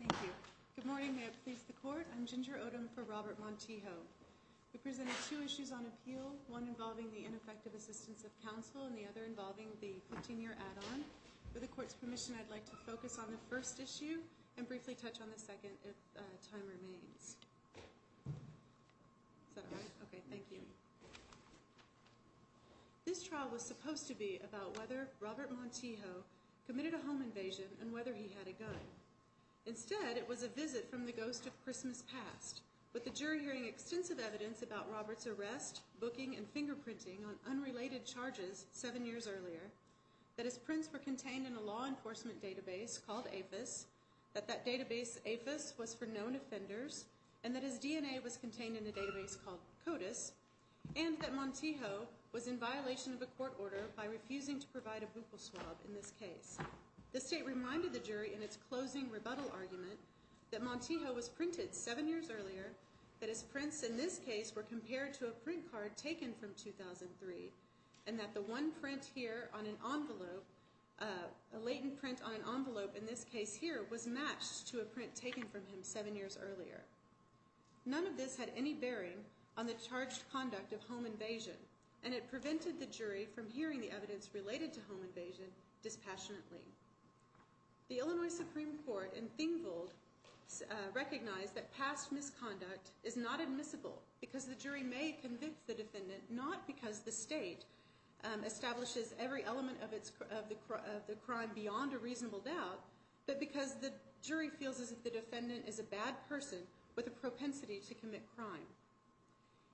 Thank you. Good morning. May it please the court. I'm Ginger Odom for Robert Montijo. We presented two issues on appeal, one involving the ineffective assistance of counsel and the other involving the 15-year add-on. With the court's permission, I'd like to focus on the first issue and briefly touch on the second if time remains. Is that all right? Okay, thank you. This trial was supposed to be about whether Robert Montijo committed a home invasion and whether he had a gun. Instead, it was a visit from the ghost of Robert's arrest, booking, and fingerprinting on unrelated charges seven years earlier, that his prints were contained in a law enforcement database called APHIS, that that database APHIS was for known offenders, and that his DNA was contained in a database called CODIS, and that Montijo was in violation of a court order by refusing to provide a buccal swab in this case. The state reminded the jury in its closing rebuttal argument that Montijo was printed seven years earlier, that his prints in this case were compared to a print card taken from 2003, and that the one print here on an envelope, a latent print on an envelope in this case here, was matched to a print taken from him seven years earlier. None of this had any bearing on the charged conduct of home invasion, and it prevented the jury from hearing the evidence related to home invasion dispassionately. The Illinois Supreme Court in Thingol recognized that past misconduct is not admissible, because the jury may convince the defendant not because the state establishes every element of the crime beyond a reasonable doubt, but because the jury feels as if the defendant is a bad person with a propensity to commit crime.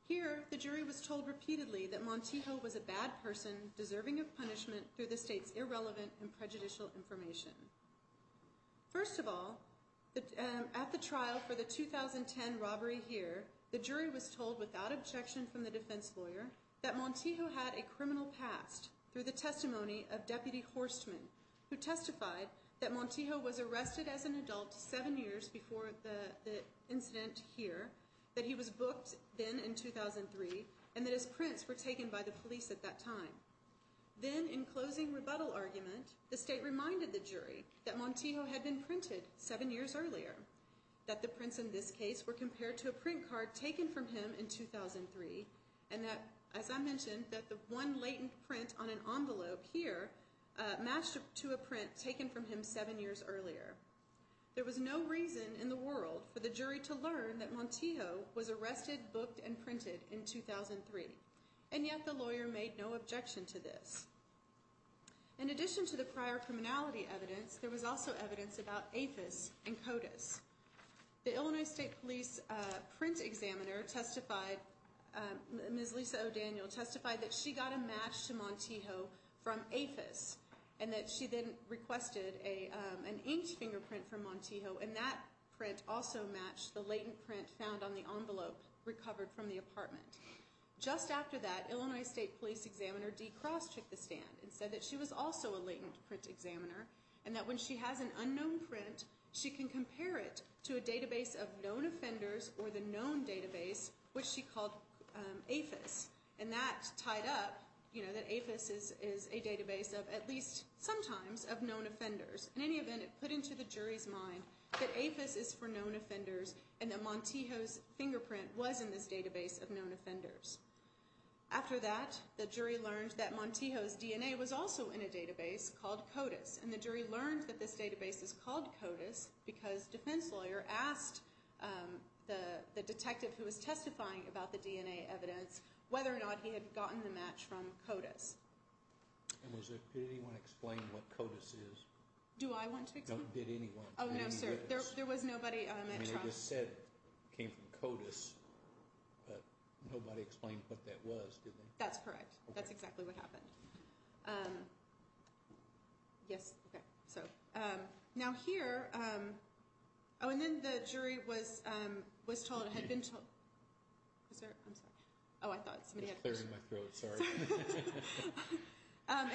Here, the jury was told repeatedly that Montijo was a bad person deserving of punishment through the state's irrelevant and prejudicial information. First of all, at the trial for the 2010 robbery here, the jury was told without objection from the defense lawyer that Montijo had a criminal past through the testimony of Deputy Horstman, who testified that Montijo was arrested as an adult seven years before the incident here, that he was booked then in 2003, and that his prints were taken by the police at that time. Then, in closing rebuttal argument, the state reminded the jury that Montijo had been printed seven years earlier, that the prints in this case were compared to a print card taken from him in 2003, and that, as I mentioned, that the one latent print on an envelope here matched to a print taken from him seven years earlier. There was no reason in the world for the jury to learn that Montijo was arrested, booked, and printed in 2003, and yet the lawyer made no objection to this. In addition to the prior criminality evidence, there was also evidence about APHIS and CODIS. The Illinois State Police print examiner testified, Ms. Lisa O'Daniel, testified that she got a match to Montijo from APHIS and that she then requested an inked fingerprint from Montijo, and that print also matched the latent print found on the envelope recovered from the apartment. Just after that, Illinois State Police examiner D. Cross took the stand and said that she was also a latent print examiner, and that when she has an unknown print, she can compare it to a database of known offenders or the known database, which she called APHIS, and that tied up, you know, that APHIS is a database of, at least sometimes, of known offenders. In any event, it put into the jury's mind that APHIS is for known offenders and that Montijo's fingerprint was in this database of known offenders. After that, the jury learned that Montijo's DNA was also in a database called CODIS, and the jury learned that this database is called CODIS because defense lawyer asked the detective who was testifying about the DNA evidence whether it was CODIS. And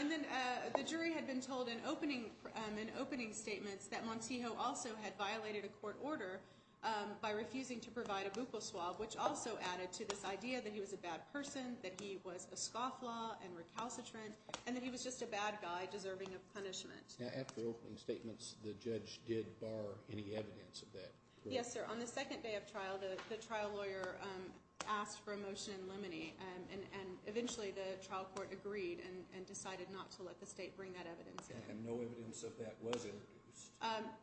then the jury had been told in opening statements that Montijo also had violated a court order by refusing to provide a buccal swab, which also added to this idea that he was a bad person, that he was a scofflaw and recalcitrant, and that he was just a bad guy deserving of punishment. Now, after opening statements, the judge did bar any evidence of that. Yes, sir. On the second day of trial, the trial lawyer asked for a motion in limine, and eventually the trial court agreed and decided not to let the state bring that evidence in. And no evidence of that was introduced?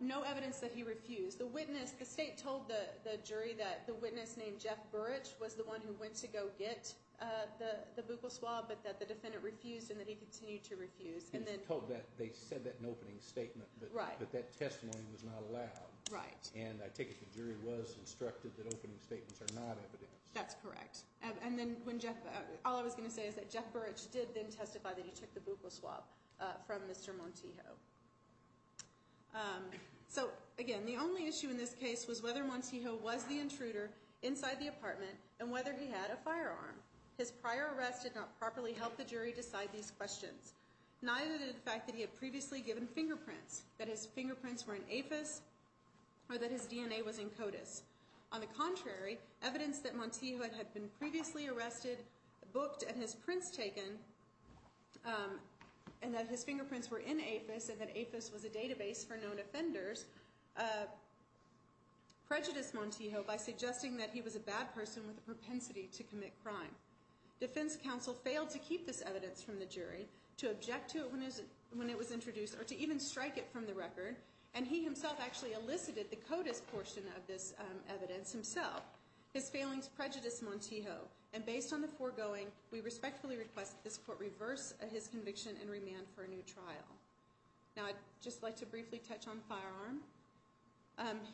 No evidence that he refused. The state told the jury that the witness named Jeff Burich was the one who went to go get the buccal swab, but that the defendant refused and that he continued to refuse. They said that in opening statement, but that testimony was not allowed. Right. And I take it the jury was instructed that opening statements are not evidence. That's correct. All I was going to say is that Jeff Burich did then testify that he took the buccal swab from Mr. Montijo. So, again, the only issue in this case was whether Montijo was the intruder inside the apartment and whether he had a firearm. His prior arrest did not properly help the jury decide these questions, neither did the fact that he had previously given fingerprints, that his fingerprints were in APHIS or that his DNA was in CODIS. On the contrary, evidence that Montijo had been previously arrested, booked, and his prints taken, and that his fingerprints were in APHIS and that APHIS was a database for known offenders, prejudiced Montijo by suggesting that he was a bad person with a propensity to commit crime. Defense counsel failed to keep this evidence from the jury, to object to it when it was introduced, or to even strike it from the record, and he himself actually elicited the evidence himself. His failings prejudiced Montijo, and based on the foregoing, we respectfully request that this court reverse his conviction and remand for a new trial. Now, I'd just like to briefly touch on firearm.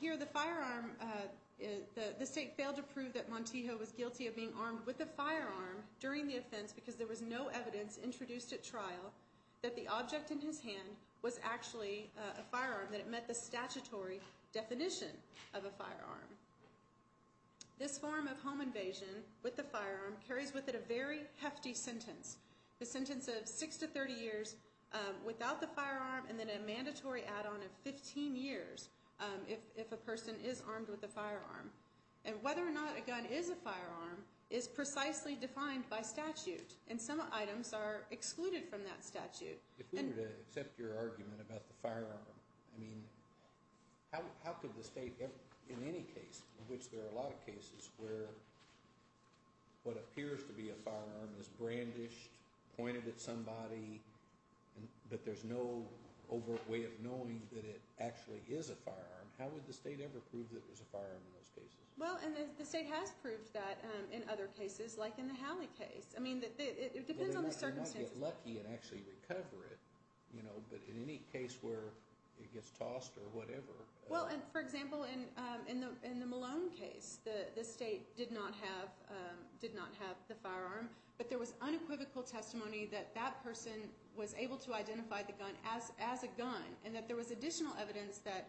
Here, the firearm, the state failed to prove that Montijo was guilty of being armed with a firearm during the offense because there was no evidence introduced at trial that the object in his hand was actually a firearm, that it met the statutory definition of a firearm. This form of home invasion with the firearm carries with it a very hefty sentence. The sentence of 6 to 30 years without the firearm, and then a mandatory add-on of 15 years if a person is armed with a firearm. And whether or not a gun is a firearm is precisely defined by statute, and some items are excluded from that statute. If we were to accept your argument about the firearm, I mean, how could the state, in any case, in which there are a lot of cases where what appears to be a firearm is brandished, pointed at somebody, but there's no overt way of knowing that it actually is a firearm, how would the state ever prove that it was a firearm in those cases? Well, and the state has proved that in other cases, like in the Howley case. I mean, it depends on the circumstances. You can get lucky and actually recover it, you know, but in any case where it gets tossed or whatever. Well, and for example, in the Malone case, the state did not have the firearm, but there was unequivocal testimony that that person was able to identify the gun as a gun, and that there was additional evidence that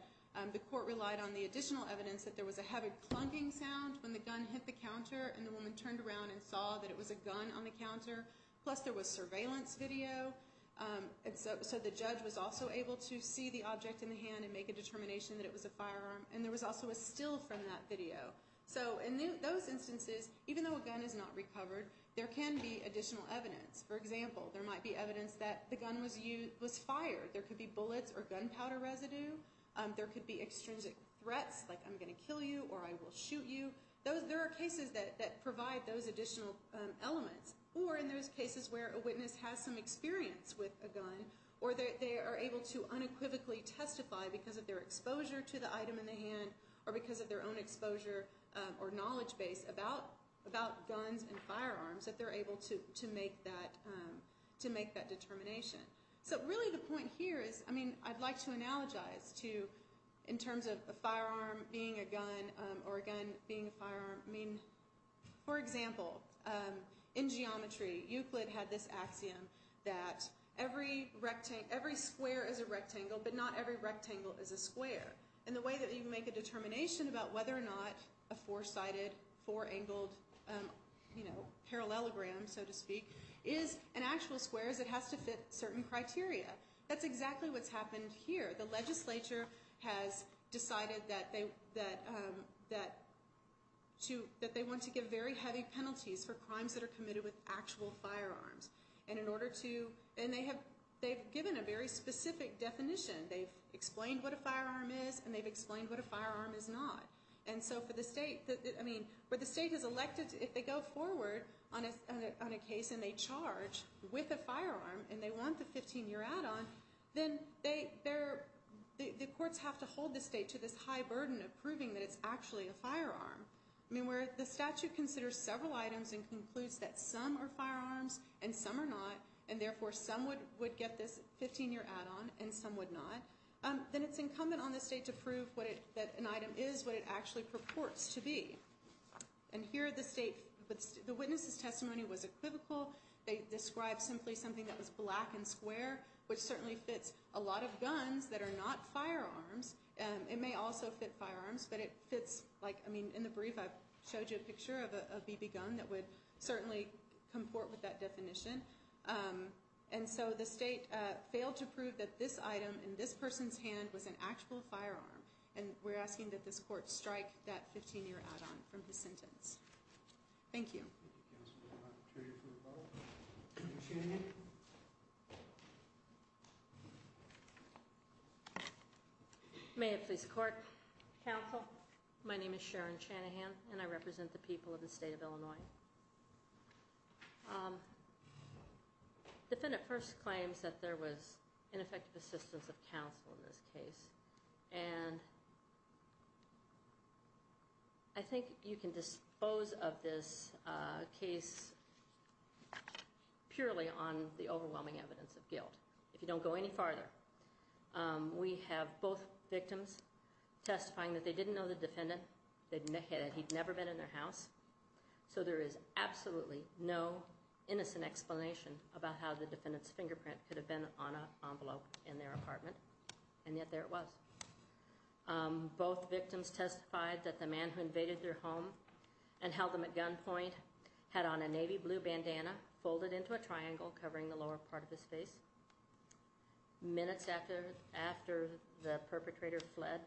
the court relied on the additional evidence that there was a heavy clunking sound when the gun hit the counter and the woman turned around and saw that it was a gun on the counter, plus there was surveillance video, and so the judge was also able to see the object in the hand and make a determination that it was a firearm, and there was also a still from that video. So in those instances, even though a gun is not recovered, there can be additional evidence. For example, there might be evidence that the gun was fired. There could be bullets or gunpowder residue. There could be extrinsic threats, like I'm going to kill you or I will shoot you. There are cases that provide those additional elements, or in those cases where a witness has some experience with a gun or they are able to unequivocally testify because of their exposure to the item in the hand or because of their own exposure or knowledge base about guns and firearms, that they're able to make that determination. So really the point here is, I mean, I'd like to analogize to, in terms of a firearm being a gun or a gun being a firearm, I mean, for example, in geometry, Euclid had this axiom that every square is a rectangle, but not every rectangle is a square. And the way that you make a determination about whether or not a four-sided, four-angled, you know, parallelogram, so to speak, is an actual square is it has to fit certain criteria. That's exactly what's happened here. The legislature has decided that they want to give very heavy penalties for crimes that are committed with actual firearms. And in order to, and they have given a very specific definition. They've explained what a firearm is and they've explained what a firearm is not. And so for the state, I mean, where the state has elected, if they go forward on a case and they charge with a firearm and they want the 15-year add-on, then the courts have to hold the state to this high burden of proving that it's actually a firearm. I mean, where the statute considers several items and concludes that some are firearms and some are not, and therefore some would get this 15-year add-on and some would not, then it's incumbent on the state to prove that an item is what it actually purports to be. And here the state, the witness' testimony was equivocal. They described simply something that was black and square, which certainly fits a lot of guns that are not firearms. It may also fit firearms, but it fits, like, I mean, in the brief I showed you a picture of a BB gun that would certainly comport with that definition. And so the state failed to prove that this item in this person's hand was an actual firearm. And we're asking that this court strike that 15-year add-on from his sentence. Thank you. Thank you, Counsel. I'm going to turn you for a vote. Sharon Shanahan. May it please the Court. Counsel, my name is Sharon Shanahan and I represent the people of the state of Illinois. Defendant first claims that there was ineffective assistance of counsel in this case. And I think you can dispose of this case purely on the overwhelming evidence of guilt. If you don't go any farther, we have both victims testifying that they didn't know the defendant. They admitted he'd never been in their house. So there is absolutely no innocent explanation about how the defendant's fingerprint could have been on an envelope in their apartment. And yet there it was. Both victims testified that the man who invaded their home and held them at gunpoint had on a navy blue bandana folded into a triangle covering the lower part of his face. Minutes after the perpetrator fled,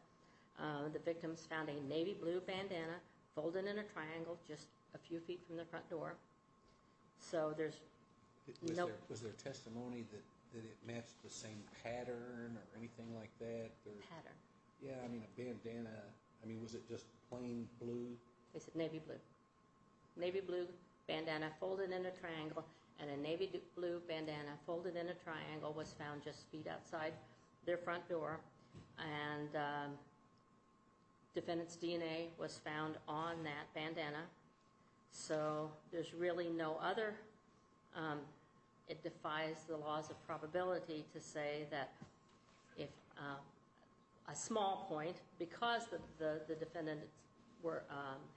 the victims found a navy blue bandana folded in a triangle just a few feet from the front door. So there's no... Was there testimony that it matched the same pattern or anything like that? Pattern? Yeah, I mean a bandana. I mean, was it just plain blue? They said navy blue. Navy blue bandana folded in a triangle. And a navy blue bandana folded in a triangle was found just feet outside their front door. And defendant's DNA was found on that bandana. So there's really no other. It defies the laws of probability to say that if a small point, because the defendant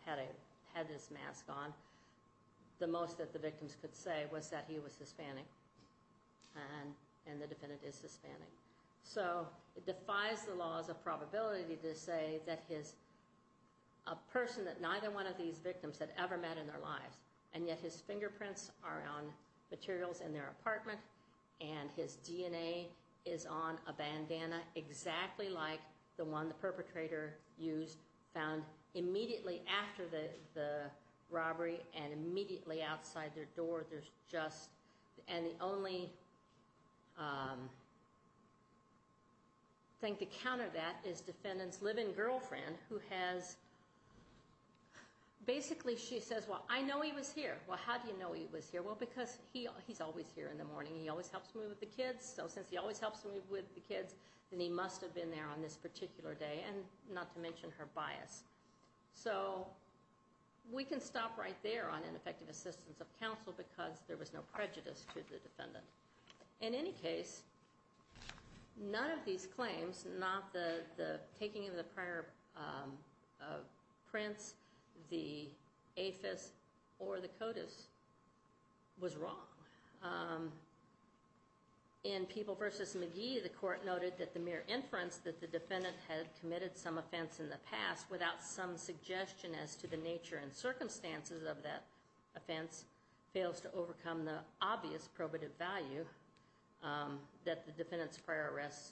had his mask on, the most that the victims could say was that he was Hispanic and the defendant is Hispanic. So it defies the laws of probability to say that his... And yet his fingerprints are on materials in their apartment and his DNA is on a bandana exactly like the one the perpetrator used, found immediately after the robbery and immediately outside their door. There's just... And the only thing to counter that is defendant's live-in girlfriend who has... Basically she says, well, I know he was here. Well, how do you know he was here? Well, because he's always here in the morning. He always helps me with the kids. So since he always helps me with the kids, then he must have been there on this particular day, and not to mention her bias. So we can stop right there on ineffective assistance of counsel because there was no prejudice to the defendant. In any case, none of these claims, not the taking of the prior prints, the APHIS, or the CODIS, was wrong. In People v. McGee, the court noted that the mere inference that the defendant had committed some offense in the past without some suggestion as to the nature and circumstances of that offense fails to overcome the obvious probative value that the defendant's prior arrests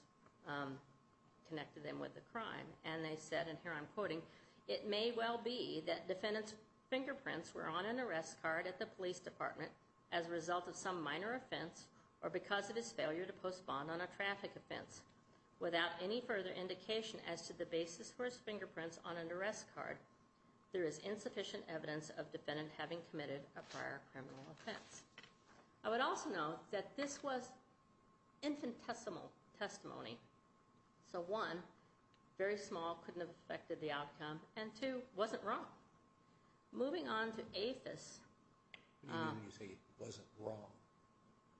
connected them with the crime. And they said, and here I'm quoting, it may well be that defendant's fingerprints were on an arrest card at the police department as a result of some minor offense or because of his failure to postpone on a traffic offense. Without any further indication as to the basis for his fingerprints on an arrest card, there is insufficient evidence of defendant having committed a prior criminal offense. I would also note that this was infinitesimal testimony. So one, very small, couldn't have affected the outcome. And two, wasn't wrong. Moving on to APHIS. What do you mean when you say it wasn't wrong?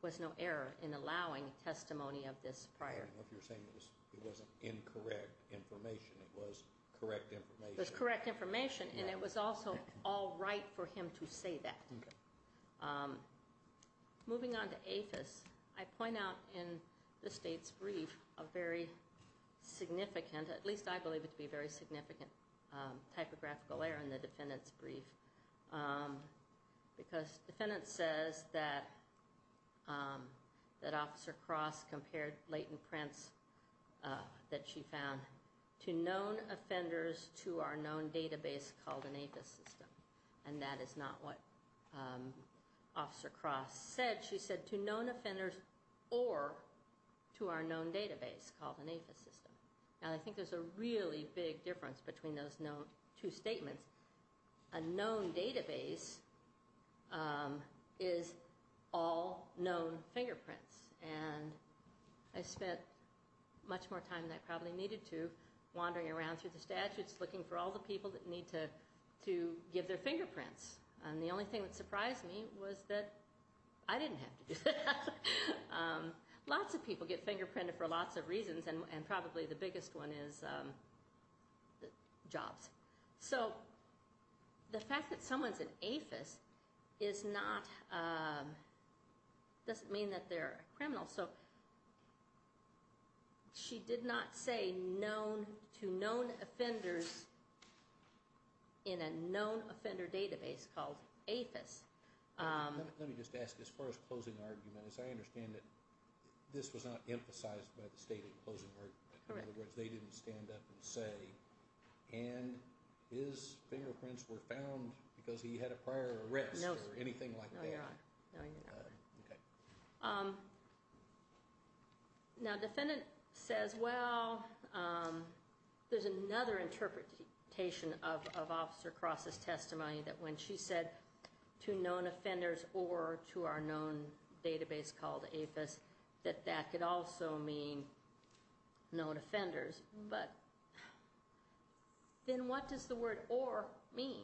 There was no error in allowing testimony of this prior. I don't know if you're saying it wasn't incorrect information. It was correct information. It was correct information, and it was also all right for him to say that. Moving on to APHIS, I point out in the state's brief a very significant, at least I believe it to be a very significant, typographical error in the defendant's brief because the defendant says that Officer Cross compared latent prints that she found to known offenders to our known database called an APHIS system. And that is not what Officer Cross said. She said to known offenders or to our known database called an APHIS system. Now, I think there's a really big difference between those two statements. A known database is all known fingerprints. And I spent much more time than I probably needed to wandering around through the statutes looking for all the people that need to give their fingerprints. And the only thing that surprised me was that I didn't have to do that. Lots of people get fingerprinted for lots of reasons, and probably the biggest one is jobs. So the fact that someone's an APHIS doesn't mean that they're a criminal. So she did not say to known offenders in a known offender database called APHIS. Let me just ask, as far as closing argument, as I understand it, this was not emphasized by the stated closing argument. Correct. In other words, they didn't stand up and say, and his fingerprints were found because he had a prior arrest or anything like that. No, you're not. Okay. Now, defendant says, well, there's another interpretation of Officer Cross's testimony that when she said to known offenders or to our known database called APHIS, that that could also mean known offenders. But then what does the word or mean?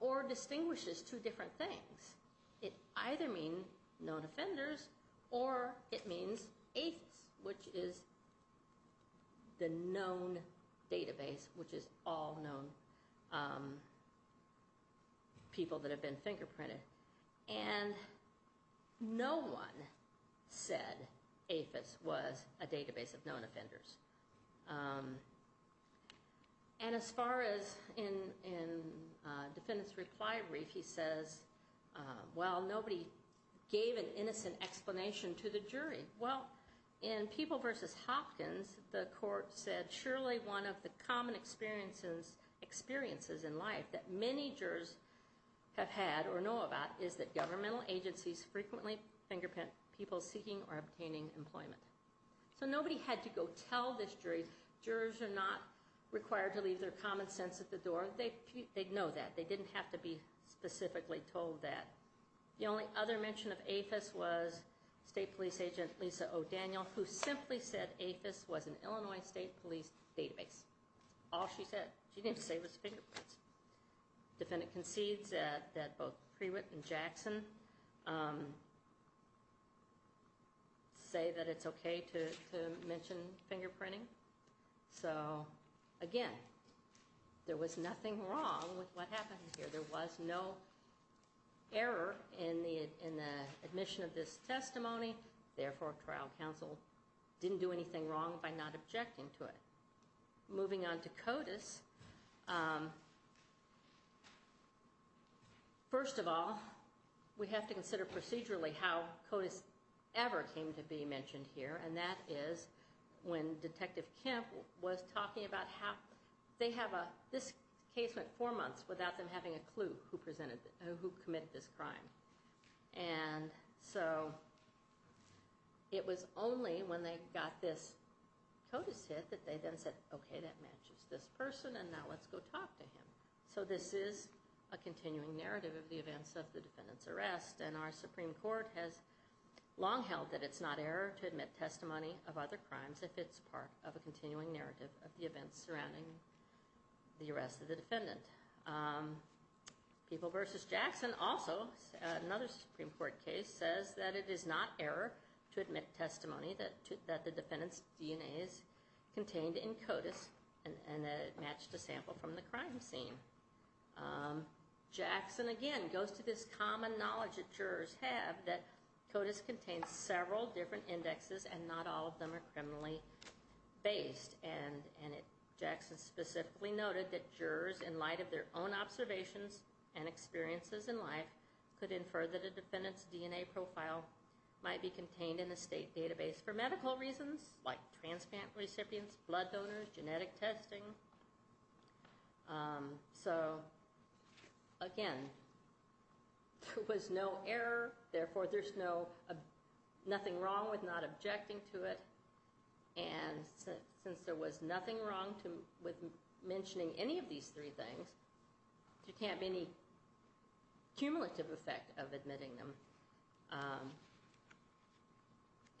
Or distinguishes two different things. It either means known offenders or it means APHIS, which is the known database, which is all known people that have been fingerprinted. And no one said APHIS was a database of known offenders. And as far as in defendant's reply brief, he says, well, nobody gave an innocent explanation to the jury. Well, in People v. Hopkins, the court said, surely one of the common experiences in life that many jurors have had or know about is that governmental agencies frequently fingerprint people seeking or obtaining employment. So nobody had to go tell this jury. Jurors are not required to leave their common sense at the door. They know that. They didn't have to be specifically told that. The only other mention of APHIS was State Police Agent Lisa O'Daniel, who simply said APHIS was an Illinois State Police database. All she said she didn't say was fingerprints. Defendant concedes that both Prewitt and Jackson say that it's okay to mention fingerprinting. So, again, there was nothing wrong with what happened here. There was no error in the admission of this testimony. Therefore, trial counsel didn't do anything wrong by not objecting to it. Moving on to CODIS, first of all, we have to consider procedurally how CODIS ever came to be mentioned here, and that is when Detective Kemp was talking about how this case went four months without them having a clue who committed this crime. And so it was only when they got this CODIS hit that they then said, okay, that matches this person, and now let's go talk to him. So this is a continuing narrative of the events of the defendant's arrest, and our Supreme Court has long held that it's not error to admit testimony of other crimes if it's part of a continuing narrative of the events surrounding the arrest of the defendant. People v. Jackson also, another Supreme Court case, says that it is not error to admit testimony that the defendant's DNA is contained in CODIS and that it matched a sample from the crime scene. Jackson, again, goes to this common knowledge that jurors have that CODIS contains several different indexes and not all of them are criminally based. And Jackson specifically noted that jurors, in light of their own observations and experiences in life, could infer that a defendant's DNA profile might be contained in a state database for medical reasons, like transplant recipients, blood donors, genetic testing. So, again, there was no error, therefore there's nothing wrong with not objecting to it. And since there was nothing wrong with mentioning any of these three things, there can't be any cumulative effect of admitting them.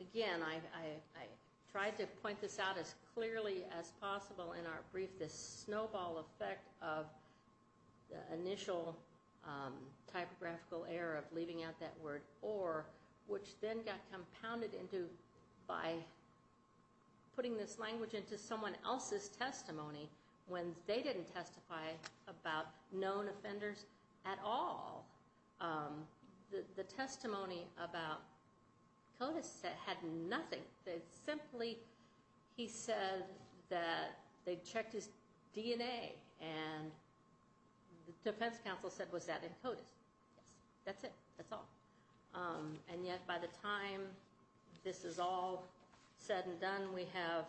Again, I tried to point this out as clearly as possible in our brief, this snowball effect of the initial typographical error of leaving out that word or, which then got compounded by putting this language into someone else's testimony when they didn't testify about known offenders at all. The testimony about CODIS had nothing. Simply, he said that they checked his DNA and the defense counsel said, was that in CODIS? Yes. That's it. That's all. And yet, by the time this is all said and done, we have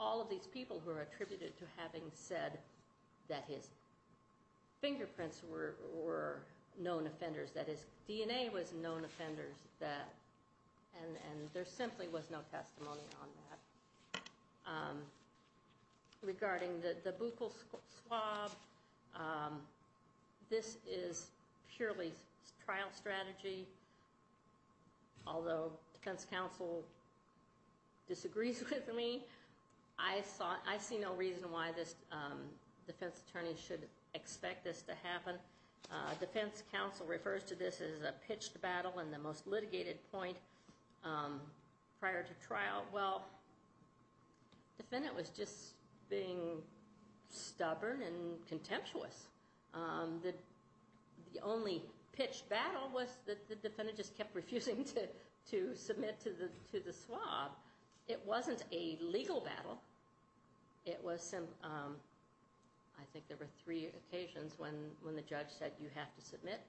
all of these people who are attributed to having said that his fingerprints were known offenders, that his DNA was known offenders, and there simply was no testimony on that. Regarding the buccal swab, this is purely trial strategy. Although defense counsel disagrees with me, I see no reason why this defense attorney should expect this to happen. Defense counsel refers to this as a pitched battle and the most litigated point prior to trial. Well, the defendant was just being stubborn and contemptuous. The only pitched battle was that the defendant just kept refusing to submit to the swab. It wasn't a legal battle. It was some, I think there were three occasions when the judge said you have to submit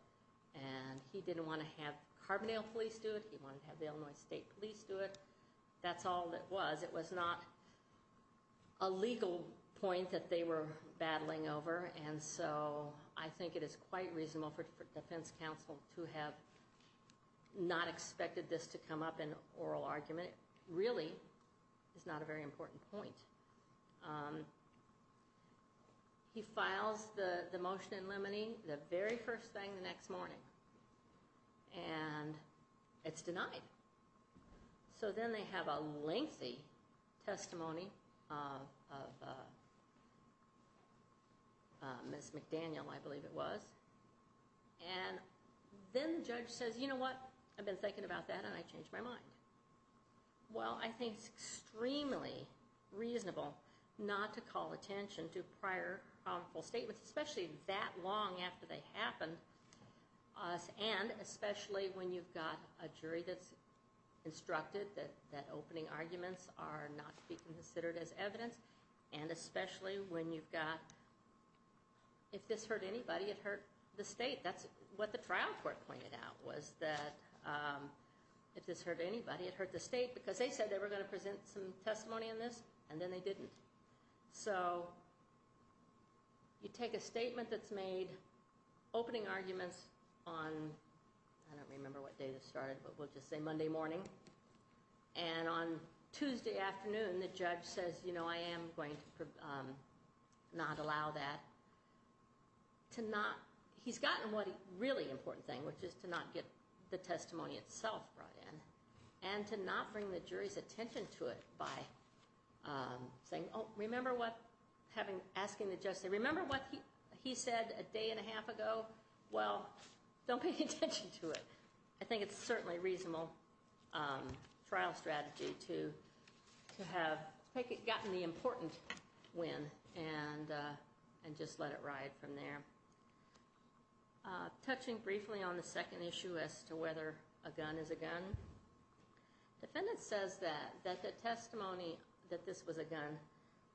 and he didn't want to have Carbondale police do it. He wanted to have the Illinois State Police do it. That's all it was. It was not a legal point that they were battling over. And so I think it is quite reasonable for defense counsel to have not expected this to come up in oral argument. It really is not a very important point. He files the motion in limine, the very first thing the next morning. And it's denied. So then they have a lengthy testimony of Ms. McDaniel, I believe it was. And then the judge says, you know what, I've been thinking about that and I changed my mind. Well, I think it's extremely reasonable not to call attention to prior statements, especially that long after they happened, and especially when you've got a jury that's instructed that opening arguments are not to be considered as evidence, and especially when you've got if this hurt anybody it hurt the state. That's what the trial court pointed out was that if this hurt anybody it hurt the state because they said they were going to present some testimony on this and then they didn't. So you take a statement that's made, opening arguments on, I don't remember what day this started, but we'll just say Monday morning. And on Tuesday afternoon the judge says, you know, I am going to not allow that. He's gotten what a really important thing, which is to not get the testimony itself brought in and to not bring the jury's attention to it by asking the judge, remember what he said a day and a half ago? Well, don't pay attention to it. I think it's certainly a reasonable trial strategy to have gotten the important win and just let it ride from there. Touching briefly on the second issue as to whether a gun is a gun, the defendant says that the testimony that this was a gun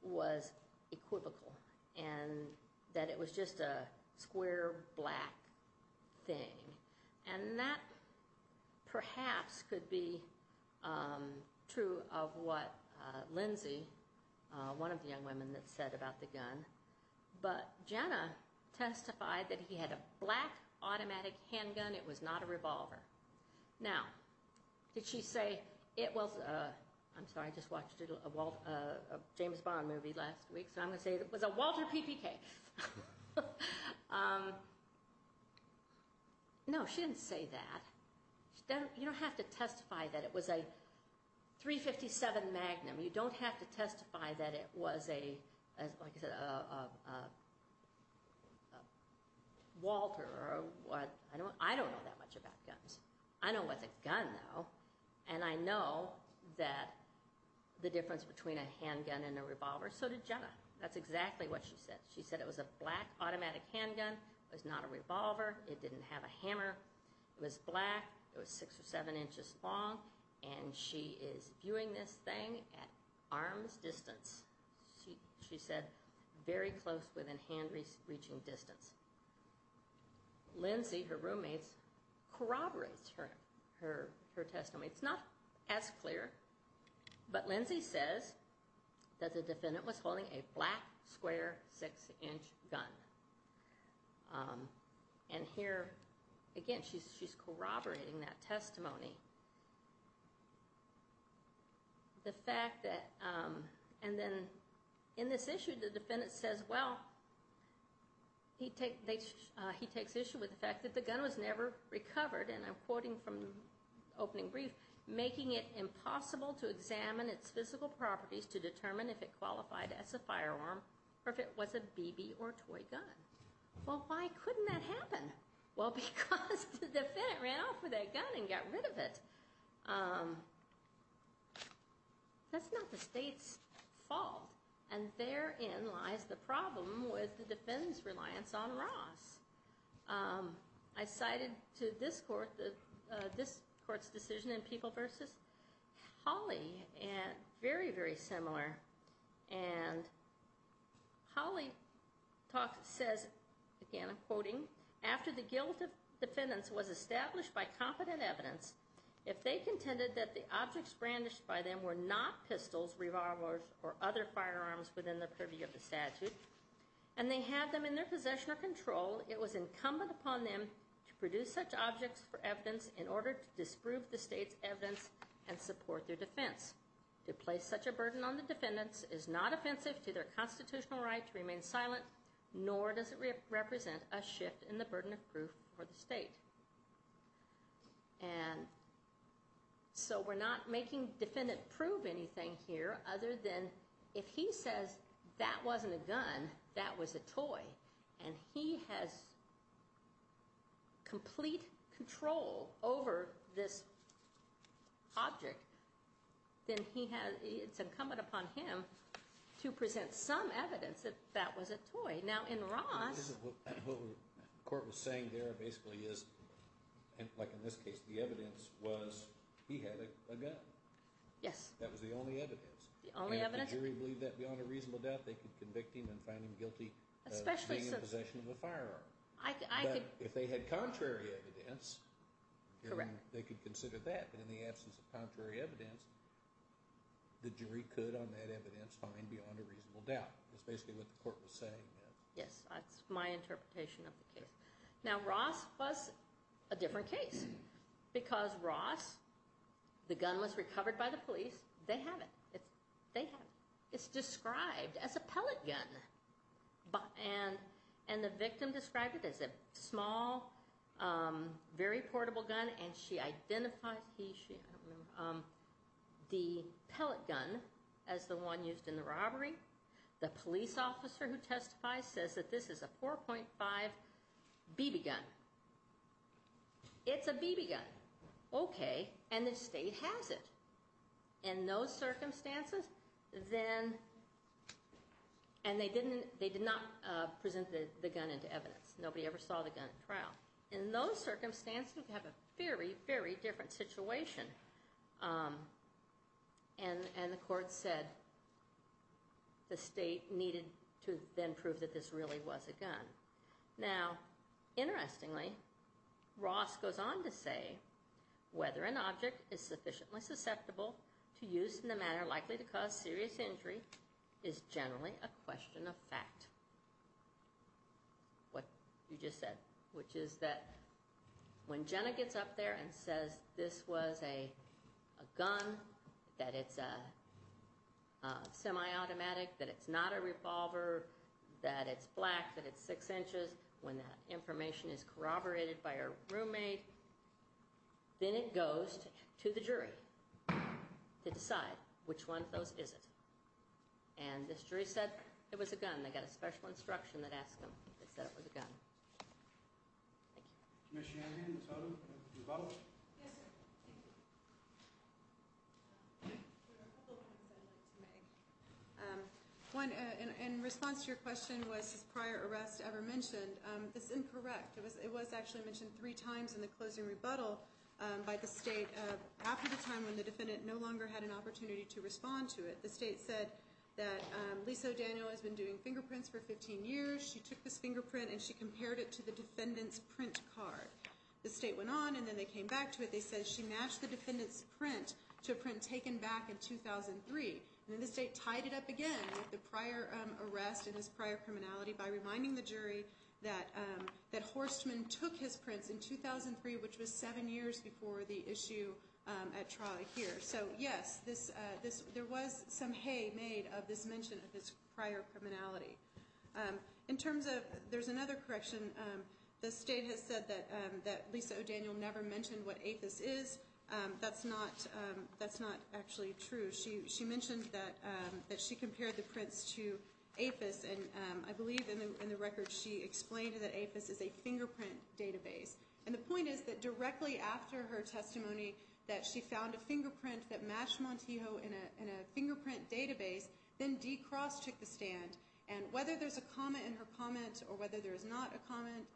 was equivocal and that it was just a square black thing. And that perhaps could be true of what Lindsay, one of the young women that said about the gun, but Jenna testified that he had a black automatic handgun. It was not a revolver. Now, did she say it was, I'm sorry, I just watched a James Bond movie last week, so I'm going to say it was a Walter PPK. No, she didn't say that. You don't have to testify that it was a .357 Magnum. You don't have to testify that it was, like I said, a Walter. I don't know that much about guns. I know what's a gun, though, and I know that the difference between a handgun and a revolver. So did Jenna. That's exactly what she said. She said it was a black automatic handgun. It was not a revolver. It didn't have a hammer. It was black. It was six or seven inches long. And she is viewing this thing at arm's distance. She said very close within hand-reaching distance. Lindsay, her roommate, corroborates her testimony. It's not as clear, but Lindsay says that the defendant was holding a black, square, six-inch gun. And here, again, she's corroborating that testimony. And then in this issue, the defendant says, well, he takes issue with the fact that the gun was never recovered, and I'm quoting from the opening brief, making it impossible to examine its physical properties to determine if it qualified as a firearm or if it was a BB or toy gun. Well, why couldn't that happen? Well, because the defendant ran off with that gun and got rid of it. That's not the state's fault. And therein lies the problem with the defendant's reliance on Ross. I cited to this court's decision in People v. Hawley, very, very similar. And Hawley says, again, I'm quoting, After the guilt of defendants was established by competent evidence, if they contended that the objects brandished by them were not pistols, revolvers, or other firearms within the purview of the statute, and they had them in their possession or control, it was incumbent upon them to produce such objects for evidence in order to disprove the state's evidence and support their defense. To place such a burden on the defendants is not offensive to their constitutional right to remain silent, nor does it represent a shift in the burden of proof for the state. And so we're not making defendant prove anything here other than if he says that wasn't a gun, that was a toy, and he has complete control over this object, then it's incumbent upon him to present some evidence that that was a toy. What the court was saying there basically is, like in this case, the evidence was he had a gun. That was the only evidence. And if the jury believed that beyond a reasonable doubt, they could convict him and find him guilty of being in possession of a firearm. But if they had contrary evidence, they could consider that. But in the absence of contrary evidence, the jury could, on that evidence, find beyond a reasonable doubt. That's basically what the court was saying. Yes, that's my interpretation of the case. Now, Ross was a different case. Because Ross, the gun was recovered by the police. They have it. They have it. It's described as a pellet gun. And the victim described it as a small, very portable gun, and she identified the pellet gun as the one used in the robbery. The police officer who testifies says that this is a 4.5 BB gun. It's a BB gun. Okay. And the state has it. In those circumstances, then, and they did not present the gun into evidence. Nobody ever saw the gun at trial. In those circumstances, you have a very, very different situation. And the court said the state needed to then prove that this really was a gun. Now, interestingly, Ross goes on to say, whether an object is sufficiently susceptible to use in the manner likely to cause serious injury is generally a question of fact. What you just said. Which is that when Jenna gets up there and says this was a gun, that it's a semi-automatic, that it's not a revolver, that it's black, that it's six inches, when that information is corroborated by her roommate, then it goes to the jury to decide which one of those is it. And this jury said it was a gun. They got a special instruction that asked them if they said it was a gun. Thank you. Ms. Shanahan, the total rebuttal? Yes, sir. In response to your question, was this prior arrest ever mentioned? It's incorrect. It was actually mentioned three times in the closing rebuttal by the state after the time when the defendant no longer had an opportunity to respond to it. The state said that Lisa O'Daniel has been doing fingerprints for 15 years. She took this fingerprint and she compared it to the defendant's print card. The state went on and then they came back to it. They said she matched the defendant's print to a print taken back in 2003. And then the state tied it up again with the prior arrest and his prior criminality by reminding the jury that Horstman took his prints in 2003, which was seven years before the issue at trial here. So, yes, there was some hay made of this mention of his prior criminality. There's another correction. The state has said that Lisa O'Daniel never mentioned what APHIS is. That's not actually true. She mentioned that she compared the prints to APHIS, and I believe in the record she explained that APHIS is a fingerprint database. And the point is that directly after her testimony that she found a fingerprint that matched Montijo in a fingerprint database, then D. Cross took the stand. And whether there's a comment in her comment or whether there is not a comment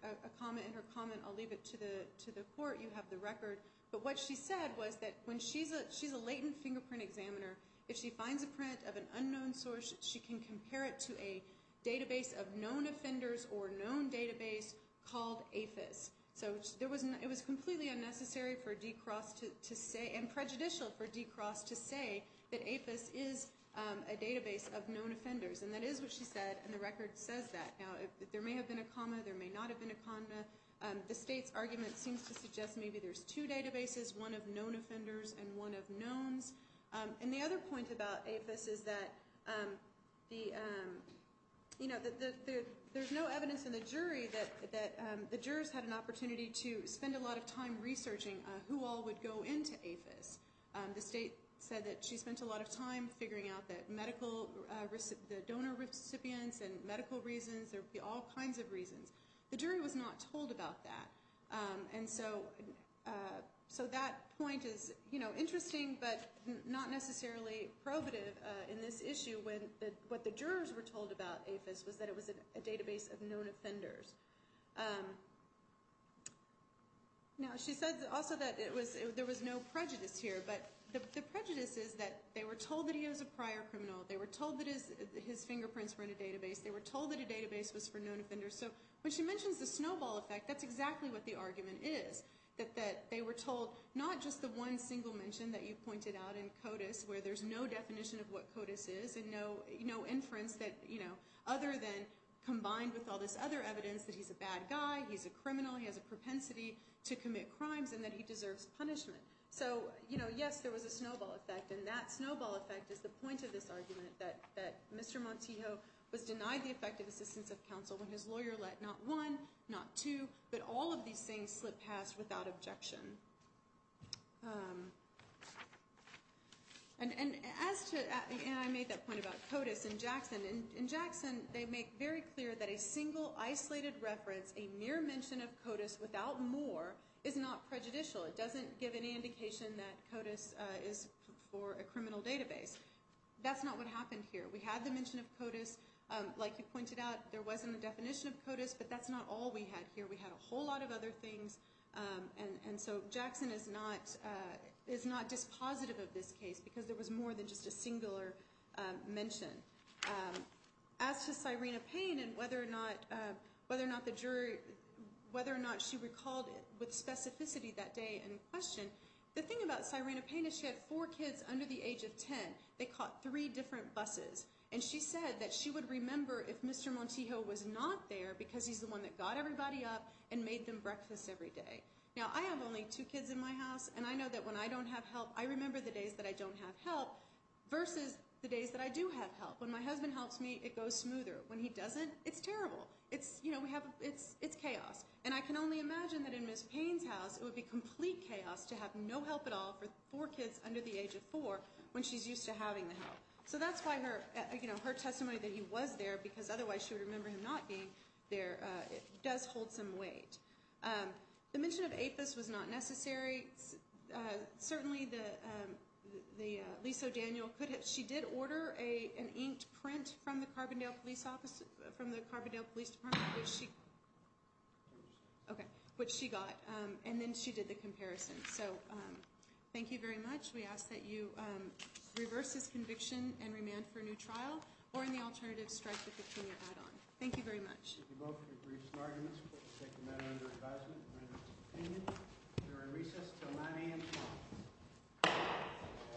in her comment, I'll leave it to the court. You have the record. But what she said was that when she's a latent fingerprint examiner, if she finds a print of an unknown source, she can compare it to a database of known offenders or known database called APHIS. So it was completely unnecessary for D. Cross to say and prejudicial for D. Cross to say that APHIS is a database of known offenders. And that is what she said, and the record says that. Now, there may have been a comma. There may not have been a comma. The state's argument seems to suggest maybe there's two databases, one of known offenders and one of knowns. And the other point about APHIS is that there's no evidence in the jury that the jurors had an opportunity to spend a lot of time researching who all would go into APHIS. The state said that she spent a lot of time figuring out the donor recipients and medical reasons. There would be all kinds of reasons. The jury was not told about that. And so that point is interesting but not necessarily probative in this issue when what the jurors were told about APHIS was that it was a database of known offenders. Now, she said also that there was no prejudice here, but the prejudice is that they were told that he was a prior criminal. They were told that his fingerprints were in a database. They were told that a database was for known offenders. So when she mentions the snowball effect, that's exactly what the argument is, that they were told not just the one single mention that you pointed out in CODIS where there's no definition of what CODIS is and no inference other than combined with all this other evidence that he's a bad guy, he's a criminal, he has a propensity to commit crimes, and that he deserves punishment. So, yes, there was a snowball effect. And that snowball effect is the point of this argument that Mr. Montijo was denied the effective assistance of counsel when his lawyer let not one, not two, but all of these things slip past without objection. And I made that point about CODIS and Jackson. In Jackson, they make very clear that a single isolated reference, a mere mention of CODIS without more, is not prejudicial. It doesn't give any indication that CODIS is for a criminal database. That's not what happened here. We had the mention of CODIS. Like you pointed out, there wasn't a definition of CODIS, but that's not all we had here. We had a whole lot of other things. And so Jackson is not dispositive of this case because there was more than just a singular mention. As to Sirena Payne and whether or not the jury, whether or not she recalled it with specificity that day in question, the thing about Sirena Payne is she had four kids under the age of 10. They caught three different buses. And she said that she would remember if Mr. Montijo was not there because he's the one that got everybody up and made them breakfast every day. Now, I have only two kids in my house, and I know that when I don't have help, I remember the days that I don't have help versus the days that I do have help. When my husband helps me, it goes smoother. When he doesn't, it's terrible. It's chaos. And I can only imagine that in Ms. Payne's house, it would be complete chaos to have no help at all for four kids under the age of four when she's used to having the help. So that's why her testimony that he was there because otherwise she would remember him not being there does hold some weight. The mention of APHIS was not necessary. Certainly, Lisa O'Daniel, she did order an inked print from the Carbondale Police Department, which she got. And then she did the comparison. So thank you very much. We ask that you reverse this conviction and remand for a new trial or in the alternative, strike the 15-year add-on. Thank you very much. Thank you both for your briefs and arguments. Please take the matter under advisement and render its opinion during recess until 9 a.m. tomorrow. All rise.